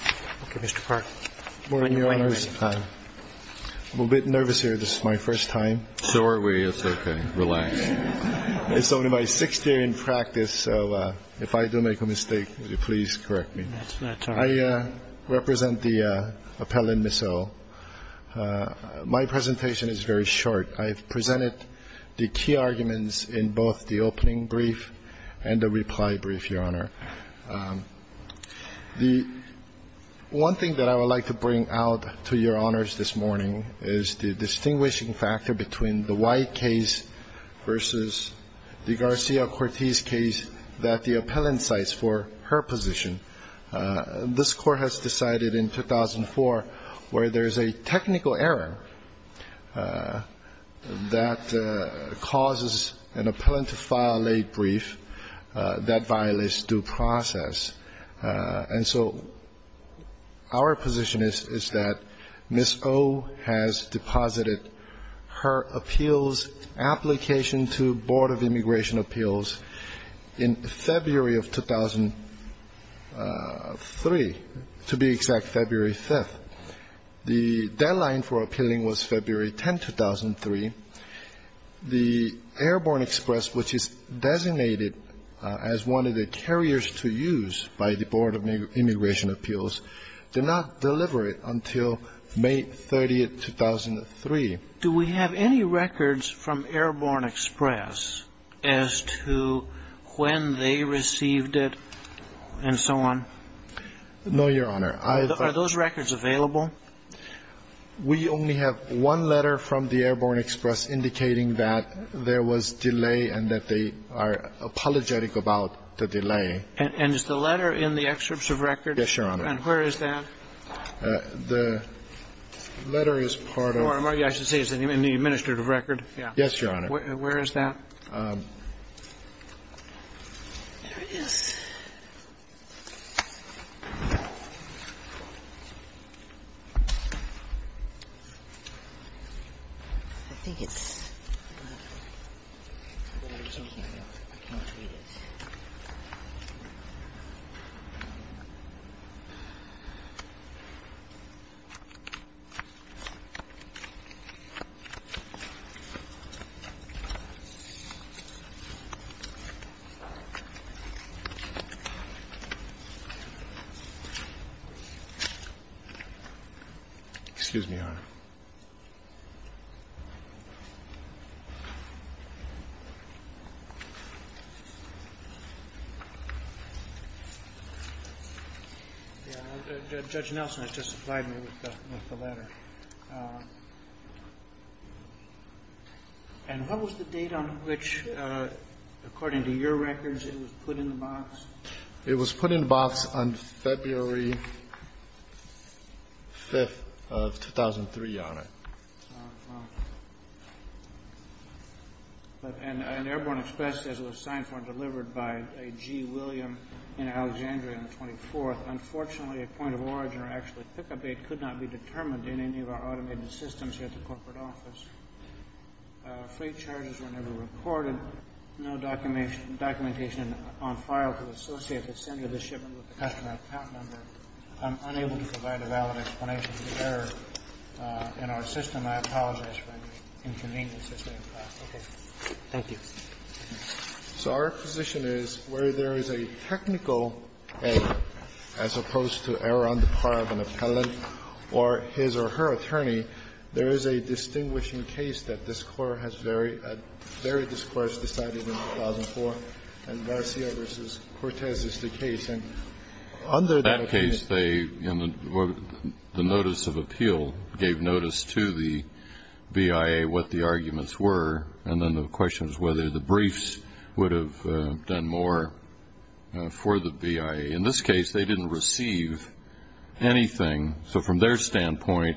I'm a bit nervous here. This is my first time. So are we. It's OK. Relax. It's only my sixth year in practice. So if I do make a mistake, please correct me. I represent the Appellant Missile. My presentation is very short. I've presented the key arguments in both the opening brief and the reply brief, Your Honor. The One thing that I would like to bring out to Your Honors this morning is the distinguishing factor between the White case versus the Garcia-Cortez case that the appellant cites for her position. This court has decided in 2004 where there is a technical error that causes an appellant to file a brief that violates due process. And so our position is that Miss O has deposited her appeals application to Board of Immigration Appeals in February of 2003, to be exact, February 5th. The deadline for appealing was February 10, 2003. The Airborne Express, which is designated as one of the carriers to use by the Board of Immigration Appeals, did not deliver it until May 30th, 2003. Do we have any records from Airborne Express as to when they received it and so on? No, Your Honor. Are those records available? We only have one letter from the Airborne Express indicating that there was delay and that they are apologetic about the delay. And is the letter in the excerpts of record? Yes, Your Honor. And where is that? The letter is part of the administrative record. Yes, Your Honor. Where is that? There it is. Excuse me, Your Honor. Judge Nelson has just supplied me with the letter. And what was the date on which, according to your records, it was put in the box? It was put in the box on February 5th of 2003, Your Honor. And Airborne Express says it was signed for and delivered by a G. William in Alexandria on the 24th. Unfortunately, a point of origin or actual pick-up date could not be determined in any of our automated systems here at the corporate office. Free charges were never recorded. No documentation on file could associate the sender of the shipment with the customer account number. I'm unable to provide a valid explanation for the error in our system. I apologize for any inconvenience this may have caused. Okay. Thank you. So our position is where there is a technical error, as opposed to error on the part of an appellant or his or her attorney, there is a distinguishing case that this Court has very discouraged deciding in 2004, and Garcia v. Cortez is the case. In that case, the notice of appeal gave notice to the BIA what the arguments were, and then the question was whether the briefs would have done more for the BIA. In this case, they didn't receive anything. So from their standpoint,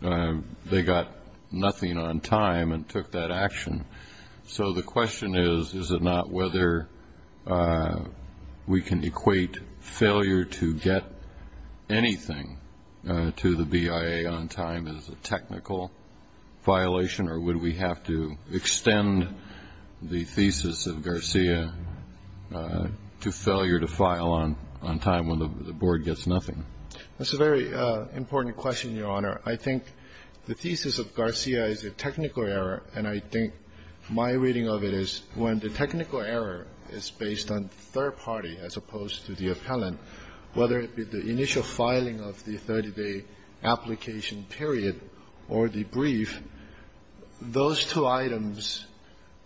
they got nothing on time and took that action. So the question is, is it not whether we can equate failure to get anything to the BIA on time as a technical violation, or would we have to extend the thesis of Garcia to failure to file on time when the Board gets nothing? That's a very important question, Your Honor. I think the thesis of Garcia is a technical error, and I think my reading of it is when the technical error is based on third party as opposed to the appellant, whether it be the initial filing of the 30-day application period or the brief, those two items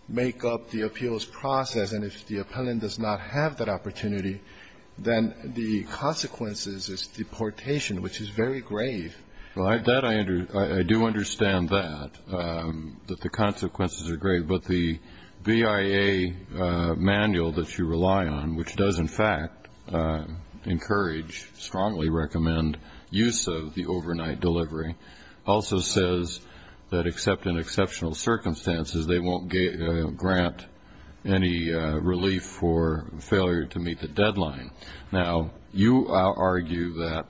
make up the appeals process, and if the appellant does not have that opportunity, then the consequences is deportation, which is very grave. Well, I do understand that, that the consequences are grave. But the BIA manual that you rely on, which does, in fact, encourage, strongly recommend use of the overnight delivery, also says that except in exceptional Now, you argue that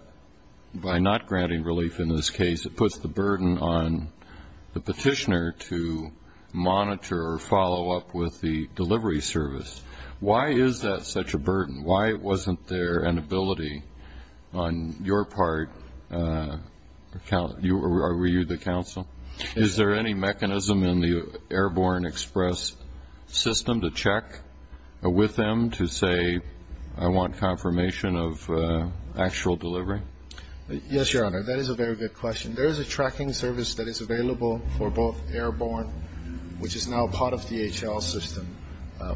by not granting relief in this case, it puts the burden on the petitioner to monitor or follow up with the delivery service. Why is that such a burden? Why wasn't there an ability on your part, or were you the counsel? Is there any mechanism in the Airborne Express system to check with them to say, I want confirmation of actual delivery? Yes, Your Honor. That is a very good question. There is a tracking service that is available for both Airborne, which is now part of DHL's system.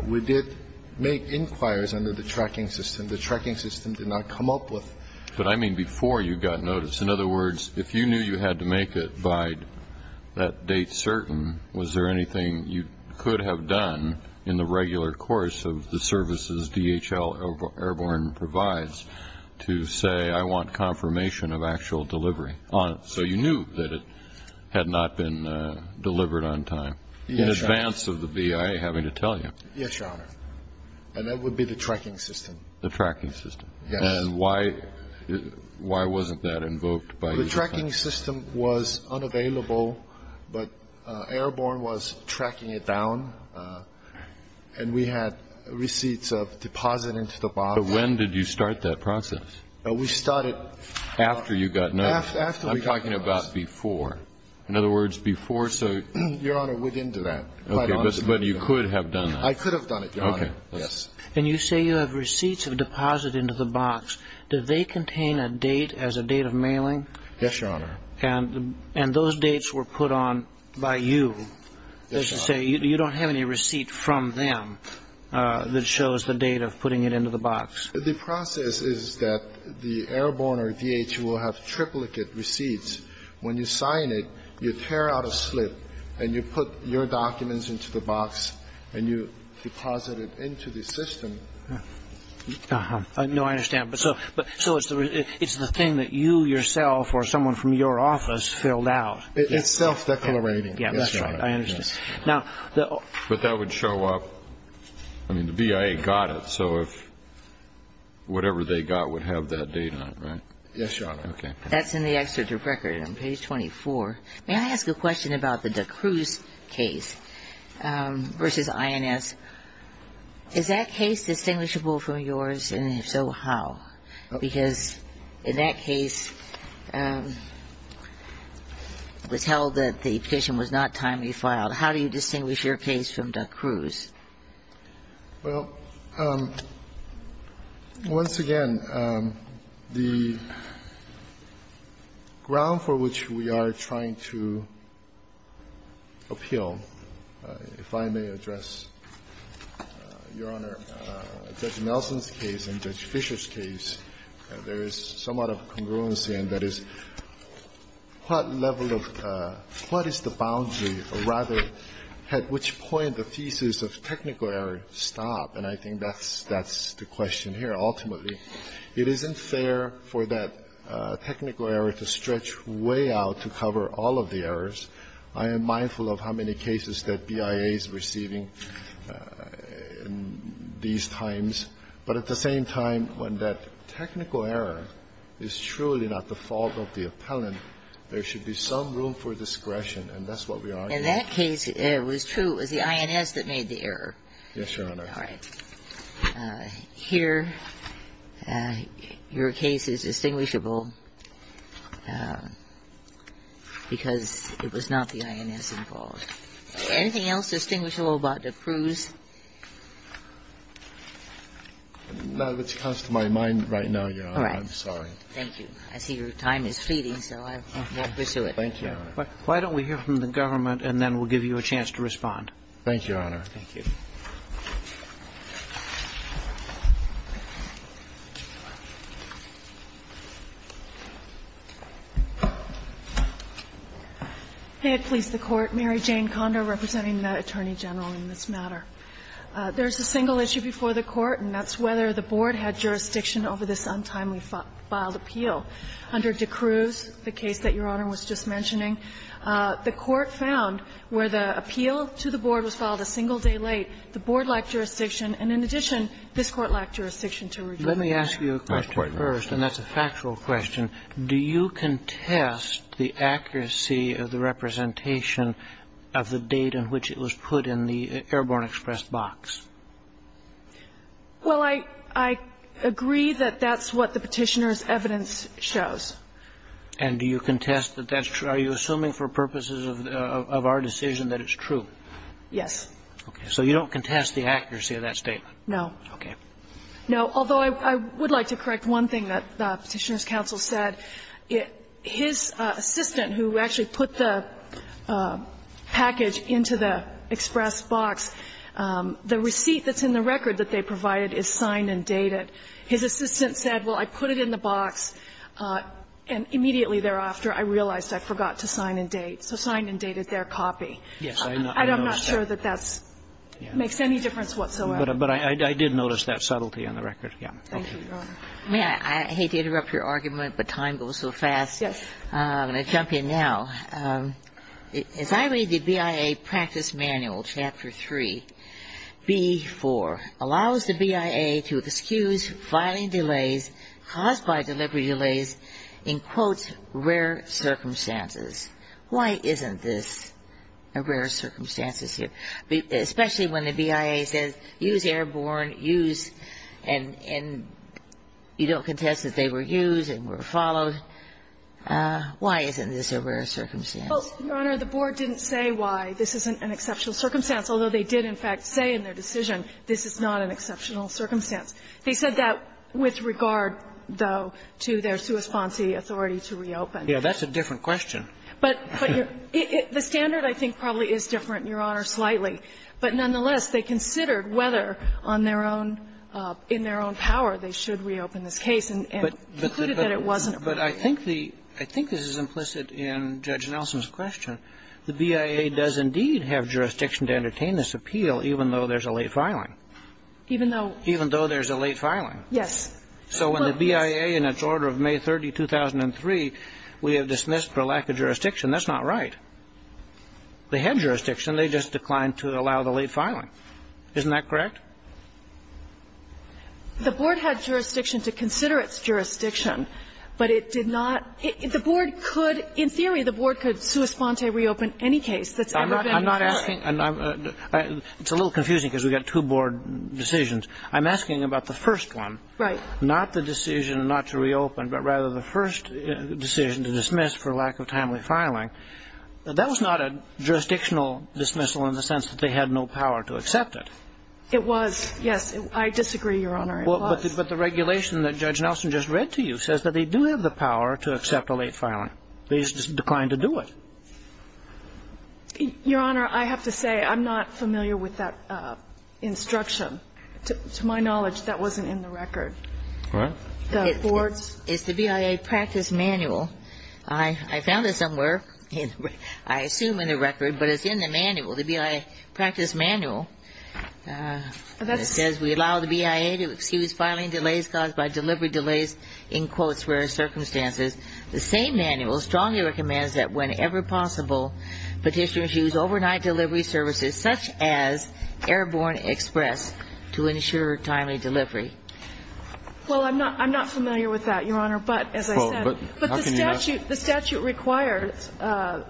We did make inquires under the tracking system. The tracking system did not come up with But I mean before you got notice. In other words, if you knew you had to make it by that date certain, was there anything you could have done in the regular course of the services DHL Airborne provides to say, I want confirmation of actual delivery? So you knew that it had not been delivered on time in advance of the BIA having to tell you. Yes, Your Honor. And that would be the tracking system. The tracking system. Yes. And why wasn't that invoked by you? The tracking system was unavailable, but Airborne was tracking it down. And we had receipts of deposit into the box. But when did you start that process? We started. After you got notice. After we got notice. I'm talking about before. In other words, before so. Your Honor, we didn't do that. But you could have done that. I could have done it, Your Honor. Okay. Yes. And you say you have receipts of deposit into the box. Do they contain a date as a date of mailing? Yes, Your Honor. And those dates were put on by you. Yes, Your Honor. So you don't have any receipt from them that shows the date of putting it into the box. The process is that the Airborne or DHL have triplicate receipts. When you sign it, you tear out a slip and you put your documents into the box and you deposit it into the system. Uh-huh. No, I understand. But so it's the thing that you yourself or someone from your office filled out. It's self-declarating. Yes, Your Honor. I understand. But that would show up. I mean, the BIA got it. So whatever they got would have that date on it, right? Yes, Your Honor. Okay. That's in the excerpt of record on page 24. May I ask a question about the D'Cruz case? Versus INS. Is that case distinguishable from yours? And if so, how? Because in that case, it was held that the petition was not timely filed. Well, once again, the ground for which we are trying to appeal, if I may address, Your Honor, Judge Nelson's case and Judge Fisher's case, there is somewhat of a congruency, and that is what level of what is the boundary or rather at which point the thesis of technical error stop. And I think that's the question here. Ultimately, it isn't fair for that technical error to stretch way out to cover all of the errors. I am mindful of how many cases that BIA is receiving these times. But at the same time, when that technical error is truly not the fault of the appellant, there should be some room for discretion, and that's what we argue. In that case, it was true. It was the INS that made the error. Yes, Your Honor. All right. Here, your case is distinguishable because it was not the INS involved. Anything else distinguishable about the crews? None that comes to my mind right now, Your Honor. All right. I'm sorry. Thank you. I see your time is fleeting, so I won't pursue it. Thank you, Your Honor. Why don't we hear from the government, and then we'll give you a chance to respond. Thank you, Your Honor. Thank you. Mary Jane Kondo, representing the Attorney General, in this matter. There is a single issue before the Court, and that's whether the Board had jurisdiction over this untimely filed appeal. Under De Cruz, the case that Your Honor was just mentioning, the Court found where the appeal to the Board was filed a single day late, the Board lacked jurisdiction, and in addition, this Court lacked jurisdiction to review. Let me ask you a question first, and that's a factual question. Do you contest the accuracy of the representation of the date in which it was put in the Airborne Express box? Well, I agree that that's what the Petitioner's evidence shows. And do you contest that that's true? Are you assuming for purposes of our decision that it's true? Yes. Okay. So you don't contest the accuracy of that statement? No. Okay. No, although I would like to correct one thing that the Petitioner's counsel said. His assistant, who actually put the package into the Express box, the receipt that's in the record that they provided is signed and dated. His assistant said, well, I put it in the box, and immediately thereafter, I realized I forgot to sign and date. So signed and dated their copy. Yes. I'm not sure that that makes any difference whatsoever. But I did notice that subtlety on the record. Yeah. Thank you, Your Honor. May I? I hate to interrupt your argument, but time goes so fast. Yes. I'm going to jump in now. As I read the BIA practice manual, Chapter 3, B-4, allows the BIA to excuse filing delays caused by delivery delays in, quote, rare circumstances. Why isn't this a rare circumstance? Especially when the BIA says use airborne, use, and you don't contest that they were used and were followed. Why isn't this a rare circumstance? Well, Your Honor, the Board didn't say why this isn't an exceptional circumstance, although they did, in fact, say in their decision this is not an exceptional circumstance. They said that with regard, though, to their sua sponsi authority to reopen. Yeah. That's a different question. But the standard, I think, probably is different, Your Honor, slightly. But nonetheless, they considered whether on their own, in their own power, they should reopen this case and concluded that it wasn't appropriate. But I think the – I think this is implicit in Judge Nelson's question. The BIA does indeed have jurisdiction to entertain this appeal even though there's a late filing. Even though? Even though there's a late filing. Yes. So when the BIA, in its order of May 30, 2003, we have dismissed for lack of jurisdiction, that's not right. They had jurisdiction. They just declined to allow the late filing. Isn't that correct? The Board had jurisdiction to consider its jurisdiction, but it did not – the Board could – in theory, the Board could sua sponte reopen any case that's ever been reopened. I'm not asking – it's a little confusing because we've got two Board decisions. I'm asking about the first one. Right. Not the decision not to reopen, but rather the first decision to dismiss for lack of timely filing. That was not a jurisdictional dismissal in the sense that they had no power to accept it. It was, yes. I disagree, Your Honor. It was. But the regulation that Judge Nelson just read to you says that they do have the power to accept a late filing. They just declined to do it. Your Honor, I have to say I'm not familiar with that instruction. To my knowledge, that wasn't in the record. What? The Board's – It's the BIA practice manual. I found it somewhere. I assume in the record, but it's in the manual. The BIA practice manual says we allow the BIA to excuse filing delays caused by delivery delays in quotes where circumstances. The same manual strongly recommends that whenever possible, petitioners use overnight delivery services such as Airborne Express to ensure timely delivery. Well, I'm not familiar with that, Your Honor. But, as I said, the statute requires a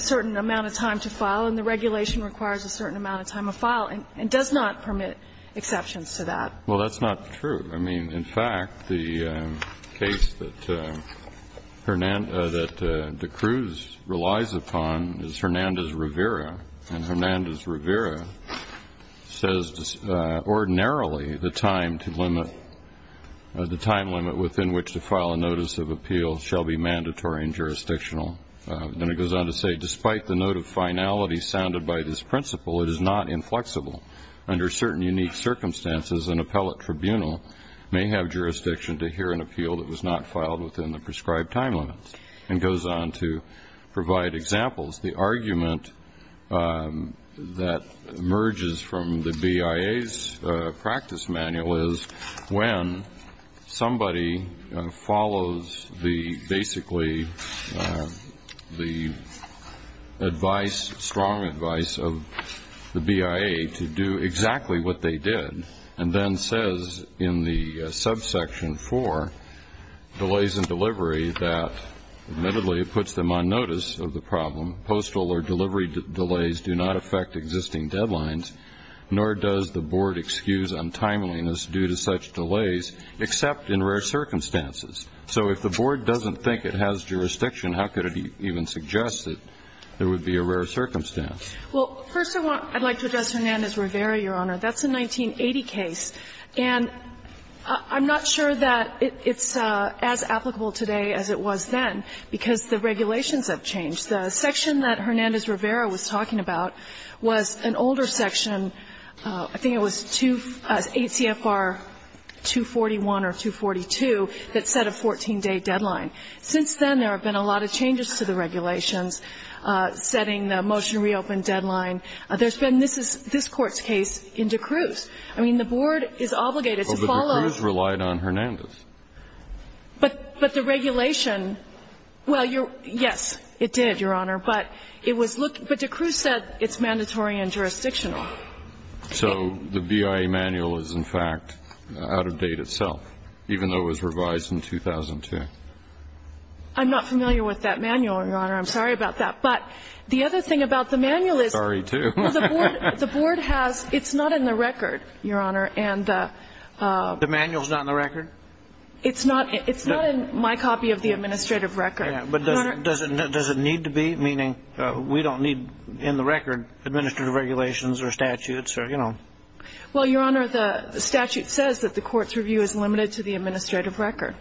certain amount of time to file and the regulation requires a certain amount of time to file and does not permit exceptions to that. Well, that's not true. I mean, in fact, the case that D'Cruz relies upon is Hernandez-Rivera, and Hernandez-Rivera says ordinarily the time limit within which to file a notice of appeal shall be mandatory and jurisdictional. Then it goes on to say, Despite the note of finality sounded by this principle, it is not inflexible. Under certain unique circumstances, an appellate tribunal may have jurisdiction to hear an appeal that was not filed within the prescribed time limits. And it goes on to provide examples. The argument that emerges from the BIA's practice manual is when somebody follows the basically the advice, strong advice of the BIA to do exactly what they did and then says in the subsection 4, delays in delivery, that admittedly it puts them on notice of the problem. Postal or delivery delays do not affect existing deadlines, nor does the Board excuse untimeliness due to such delays, except in rare circumstances. So if the Board doesn't think it has jurisdiction, how could it even suggest that there would be a rare circumstance? Well, first of all, I'd like to address Hernandez-Rivera, Your Honor. That's a 1980 case. And I'm not sure that it's as applicable today as it was then because the regulations have changed. The section that Hernandez-Rivera was talking about was an older section. I think it was 2 ACFR 241 or 242 that set a 14-day deadline. Since then, there have been a lot of changes to the regulations setting the motion reopen deadline. There's been this Court's case in D'Cruz. I mean, the Board is obligated to follow. But the D'Cruz relied on Hernandez. But the regulation, well, you're yes, it did. It did, Your Honor. But it was looked at. But D'Cruz said it's mandatory and jurisdictional. So the BIA manual is, in fact, out of date itself, even though it was revised in 2002? I'm not familiar with that manual, Your Honor. I'm sorry about that. But the other thing about the manual is the Board has, it's not in the record, Your Honor. The manual is not in the record? It's not in my copy of the administrative record. But does it need to be? Meaning we don't need in the record administrative regulations or statutes or, you know. Well, Your Honor, the statute says that the Court's review is limited to the administrative record.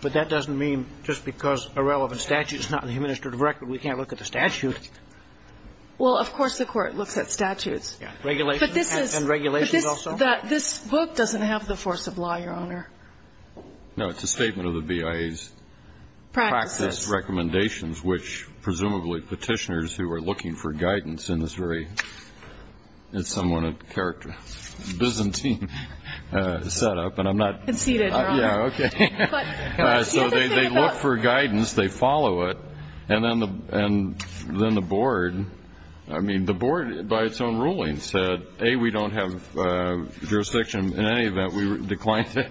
But that doesn't mean just because a relevant statute is not in the administrative record, we can't look at the statute. Well, of course the Court looks at statutes. And regulations also? But this book doesn't have the force of law, Your Honor. No, it's a statement of the BIA's practice recommendations, which presumably petitioners who are looking for guidance in this very, it's somewhat a character, Byzantine setup. And I'm not. Conceded, Your Honor. Yeah, okay. So they look for guidance. They follow it. And then the Board, I mean, the Board by its own ruling said, A, we don't have to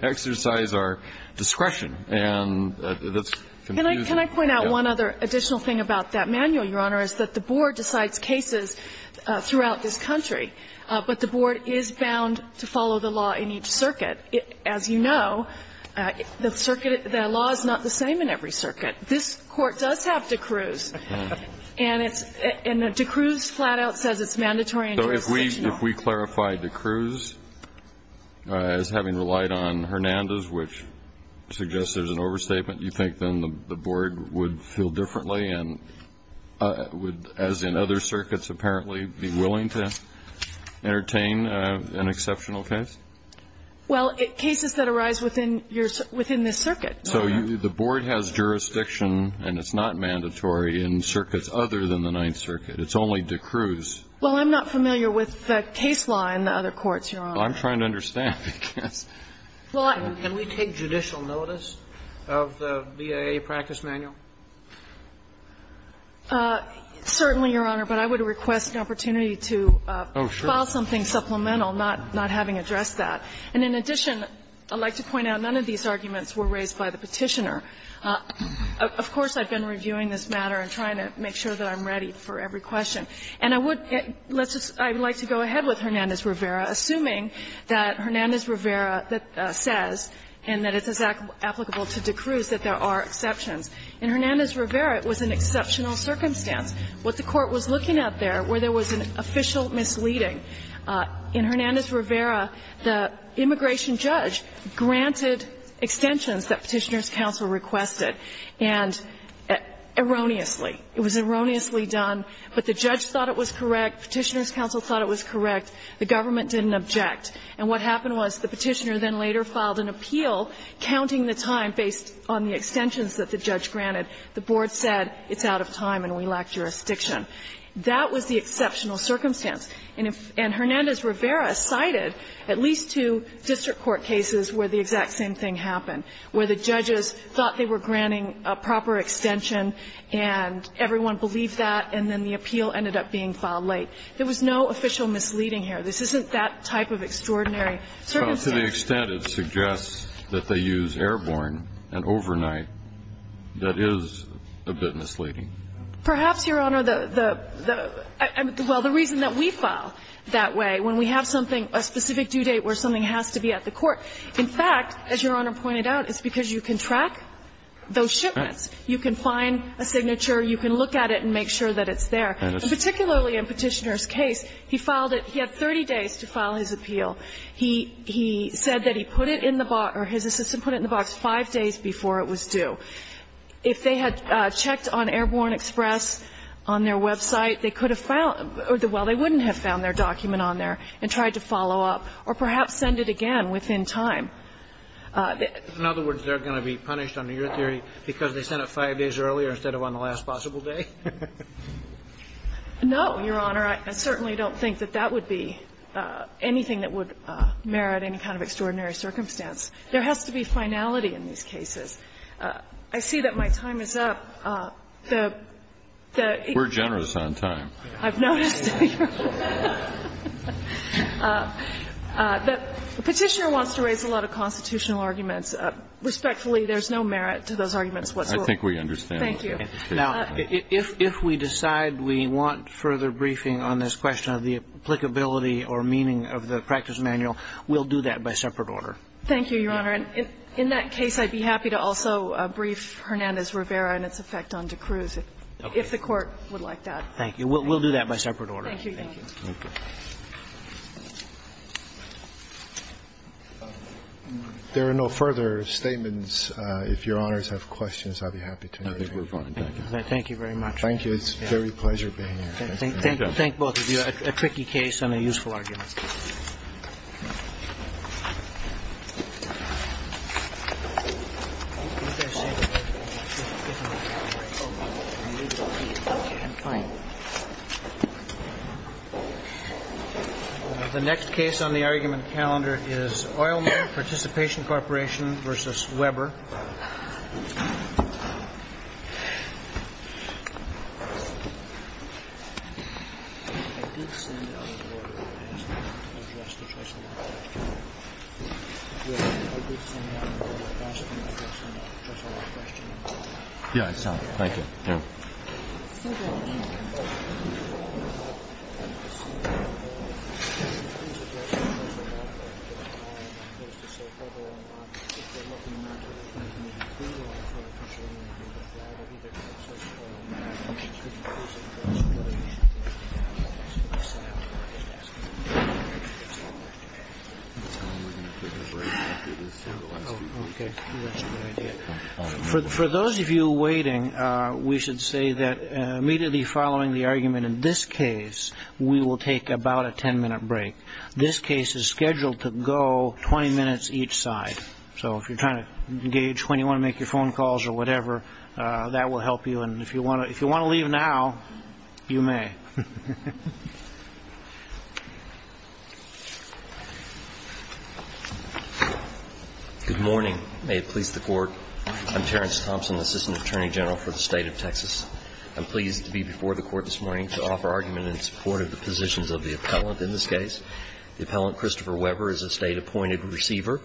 exercise our discretion. And that's confusing. Can I point out one other additional thing about that manual, Your Honor, is that the Board decides cases throughout this country, but the Board is bound to follow the law in each circuit. As you know, the circuit, the law is not the same in every circuit. This Court does have D'Cruz. And it's, and D'Cruz flat out says it's mandatory and jurisdictional. So if we clarify D'Cruz as having relied on Hernandez, which suggests there's an overstatement, you think then the Board would feel differently and would, as in other circuits apparently, be willing to entertain an exceptional case? Well, cases that arise within this circuit. So the Board has jurisdiction, and it's not mandatory, in circuits other than the Ninth Circuit. It's only D'Cruz. Well, I'm not familiar with the case law in the other courts, Your Honor. Well, I'm trying to understand, because. Well, I'm. Can we take judicial notice of the BIA practice manual? Certainly, Your Honor, but I would request an opportunity to file something supplemental, not having addressed that. And in addition, I'd like to point out none of these arguments were raised by the Petitioner. Of course, I've been reviewing this matter and trying to make sure that I'm ready for every question. And I would, let's just, I would like to go ahead with Hernandez-Rivera, assuming that Hernandez-Rivera says, and that it's applicable to D'Cruz, that there are exceptions. In Hernandez-Rivera, it was an exceptional circumstance. What the Court was looking at there, where there was an official misleading. In Hernandez-Rivera, the immigration judge granted extensions that Petitioner's counsel requested, and erroneously. It was erroneously done. But the judge thought it was correct. Petitioner's counsel thought it was correct. The government didn't object. And what happened was the Petitioner then later filed an appeal, counting the time based on the extensions that the judge granted. The board said, it's out of time and we lack jurisdiction. That was the exceptional circumstance. And Hernandez-Rivera cited at least two district court cases where the exact same thing happened, where the judges thought they were granting a proper extension and everyone believed that, and then the appeal ended up being filed late. There was no official misleading here. This isn't that type of extraordinary circumstance. Well, to the extent it suggests that they use airborne and overnight, that is a bit misleading. Perhaps, Your Honor, the – well, the reason that we file that way, when we have something, a specific due date where something has to be at the court. In fact, as Your Honor pointed out, it's because you can track those shipments. You can find a signature. You can look at it and make sure that it's there. And particularly in Petitioner's case, he filed it. He had 30 days to file his appeal. He said that he put it in the box or his assistant put it in the box five days before it was due. If they had checked on Airborne Express on their website, they could have found – well, they wouldn't have found their document on there and tried to follow up or perhaps send it again within time. In other words, they're going to be punished under your theory because they sent it five days earlier instead of on the last possible day? No, Your Honor. I certainly don't think that that would be anything that would merit any kind of extraordinary circumstance. There has to be finality in these cases. I see that my time is up. The – the – We're generous on time. I've noticed. Petitioner wants to raise a lot of constitutional arguments. Respectfully, there's no merit to those arguments whatsoever. I think we understand. Thank you. Now, if we decide we want further briefing on this question of the applicability or meaning of the practice manual, we'll do that by separate order. Thank you, Your Honor. In that case, I'd be happy to also brief Hernandez-Rivera and its effect on D'Cruz if the Court would like that. Thank you. We'll do that by separate order. Thank you, Your Honor. Thank you. There are no further statements. If Your Honors have questions, I'll be happy to move on. Thank you. Thank you very much. Thank you. It's a very pleasure being here. Thank both of you. A tricky case and a useful argument. The next case on the argument calendar is Oilman Participation Corporation v. Weber. Mr. Weber. Mr. Weber. For those of you waiting, we should say that immediately following the argument in this case, we will take about a 10-minute break. This case is scheduled to go 20 minutes each side. So if you're trying to engage when you want to make your phone calls or whatever, that will help you. And if you want to leave now, you may. Good morning. May it please the Court. I'm Terrence Thompson, Assistant Attorney General for the State of Texas. I'm pleased to be before the Court this morning to offer argument in support of the positions of the appellant in this case. The appellant, Christopher Weber, is a State-appointed receiver.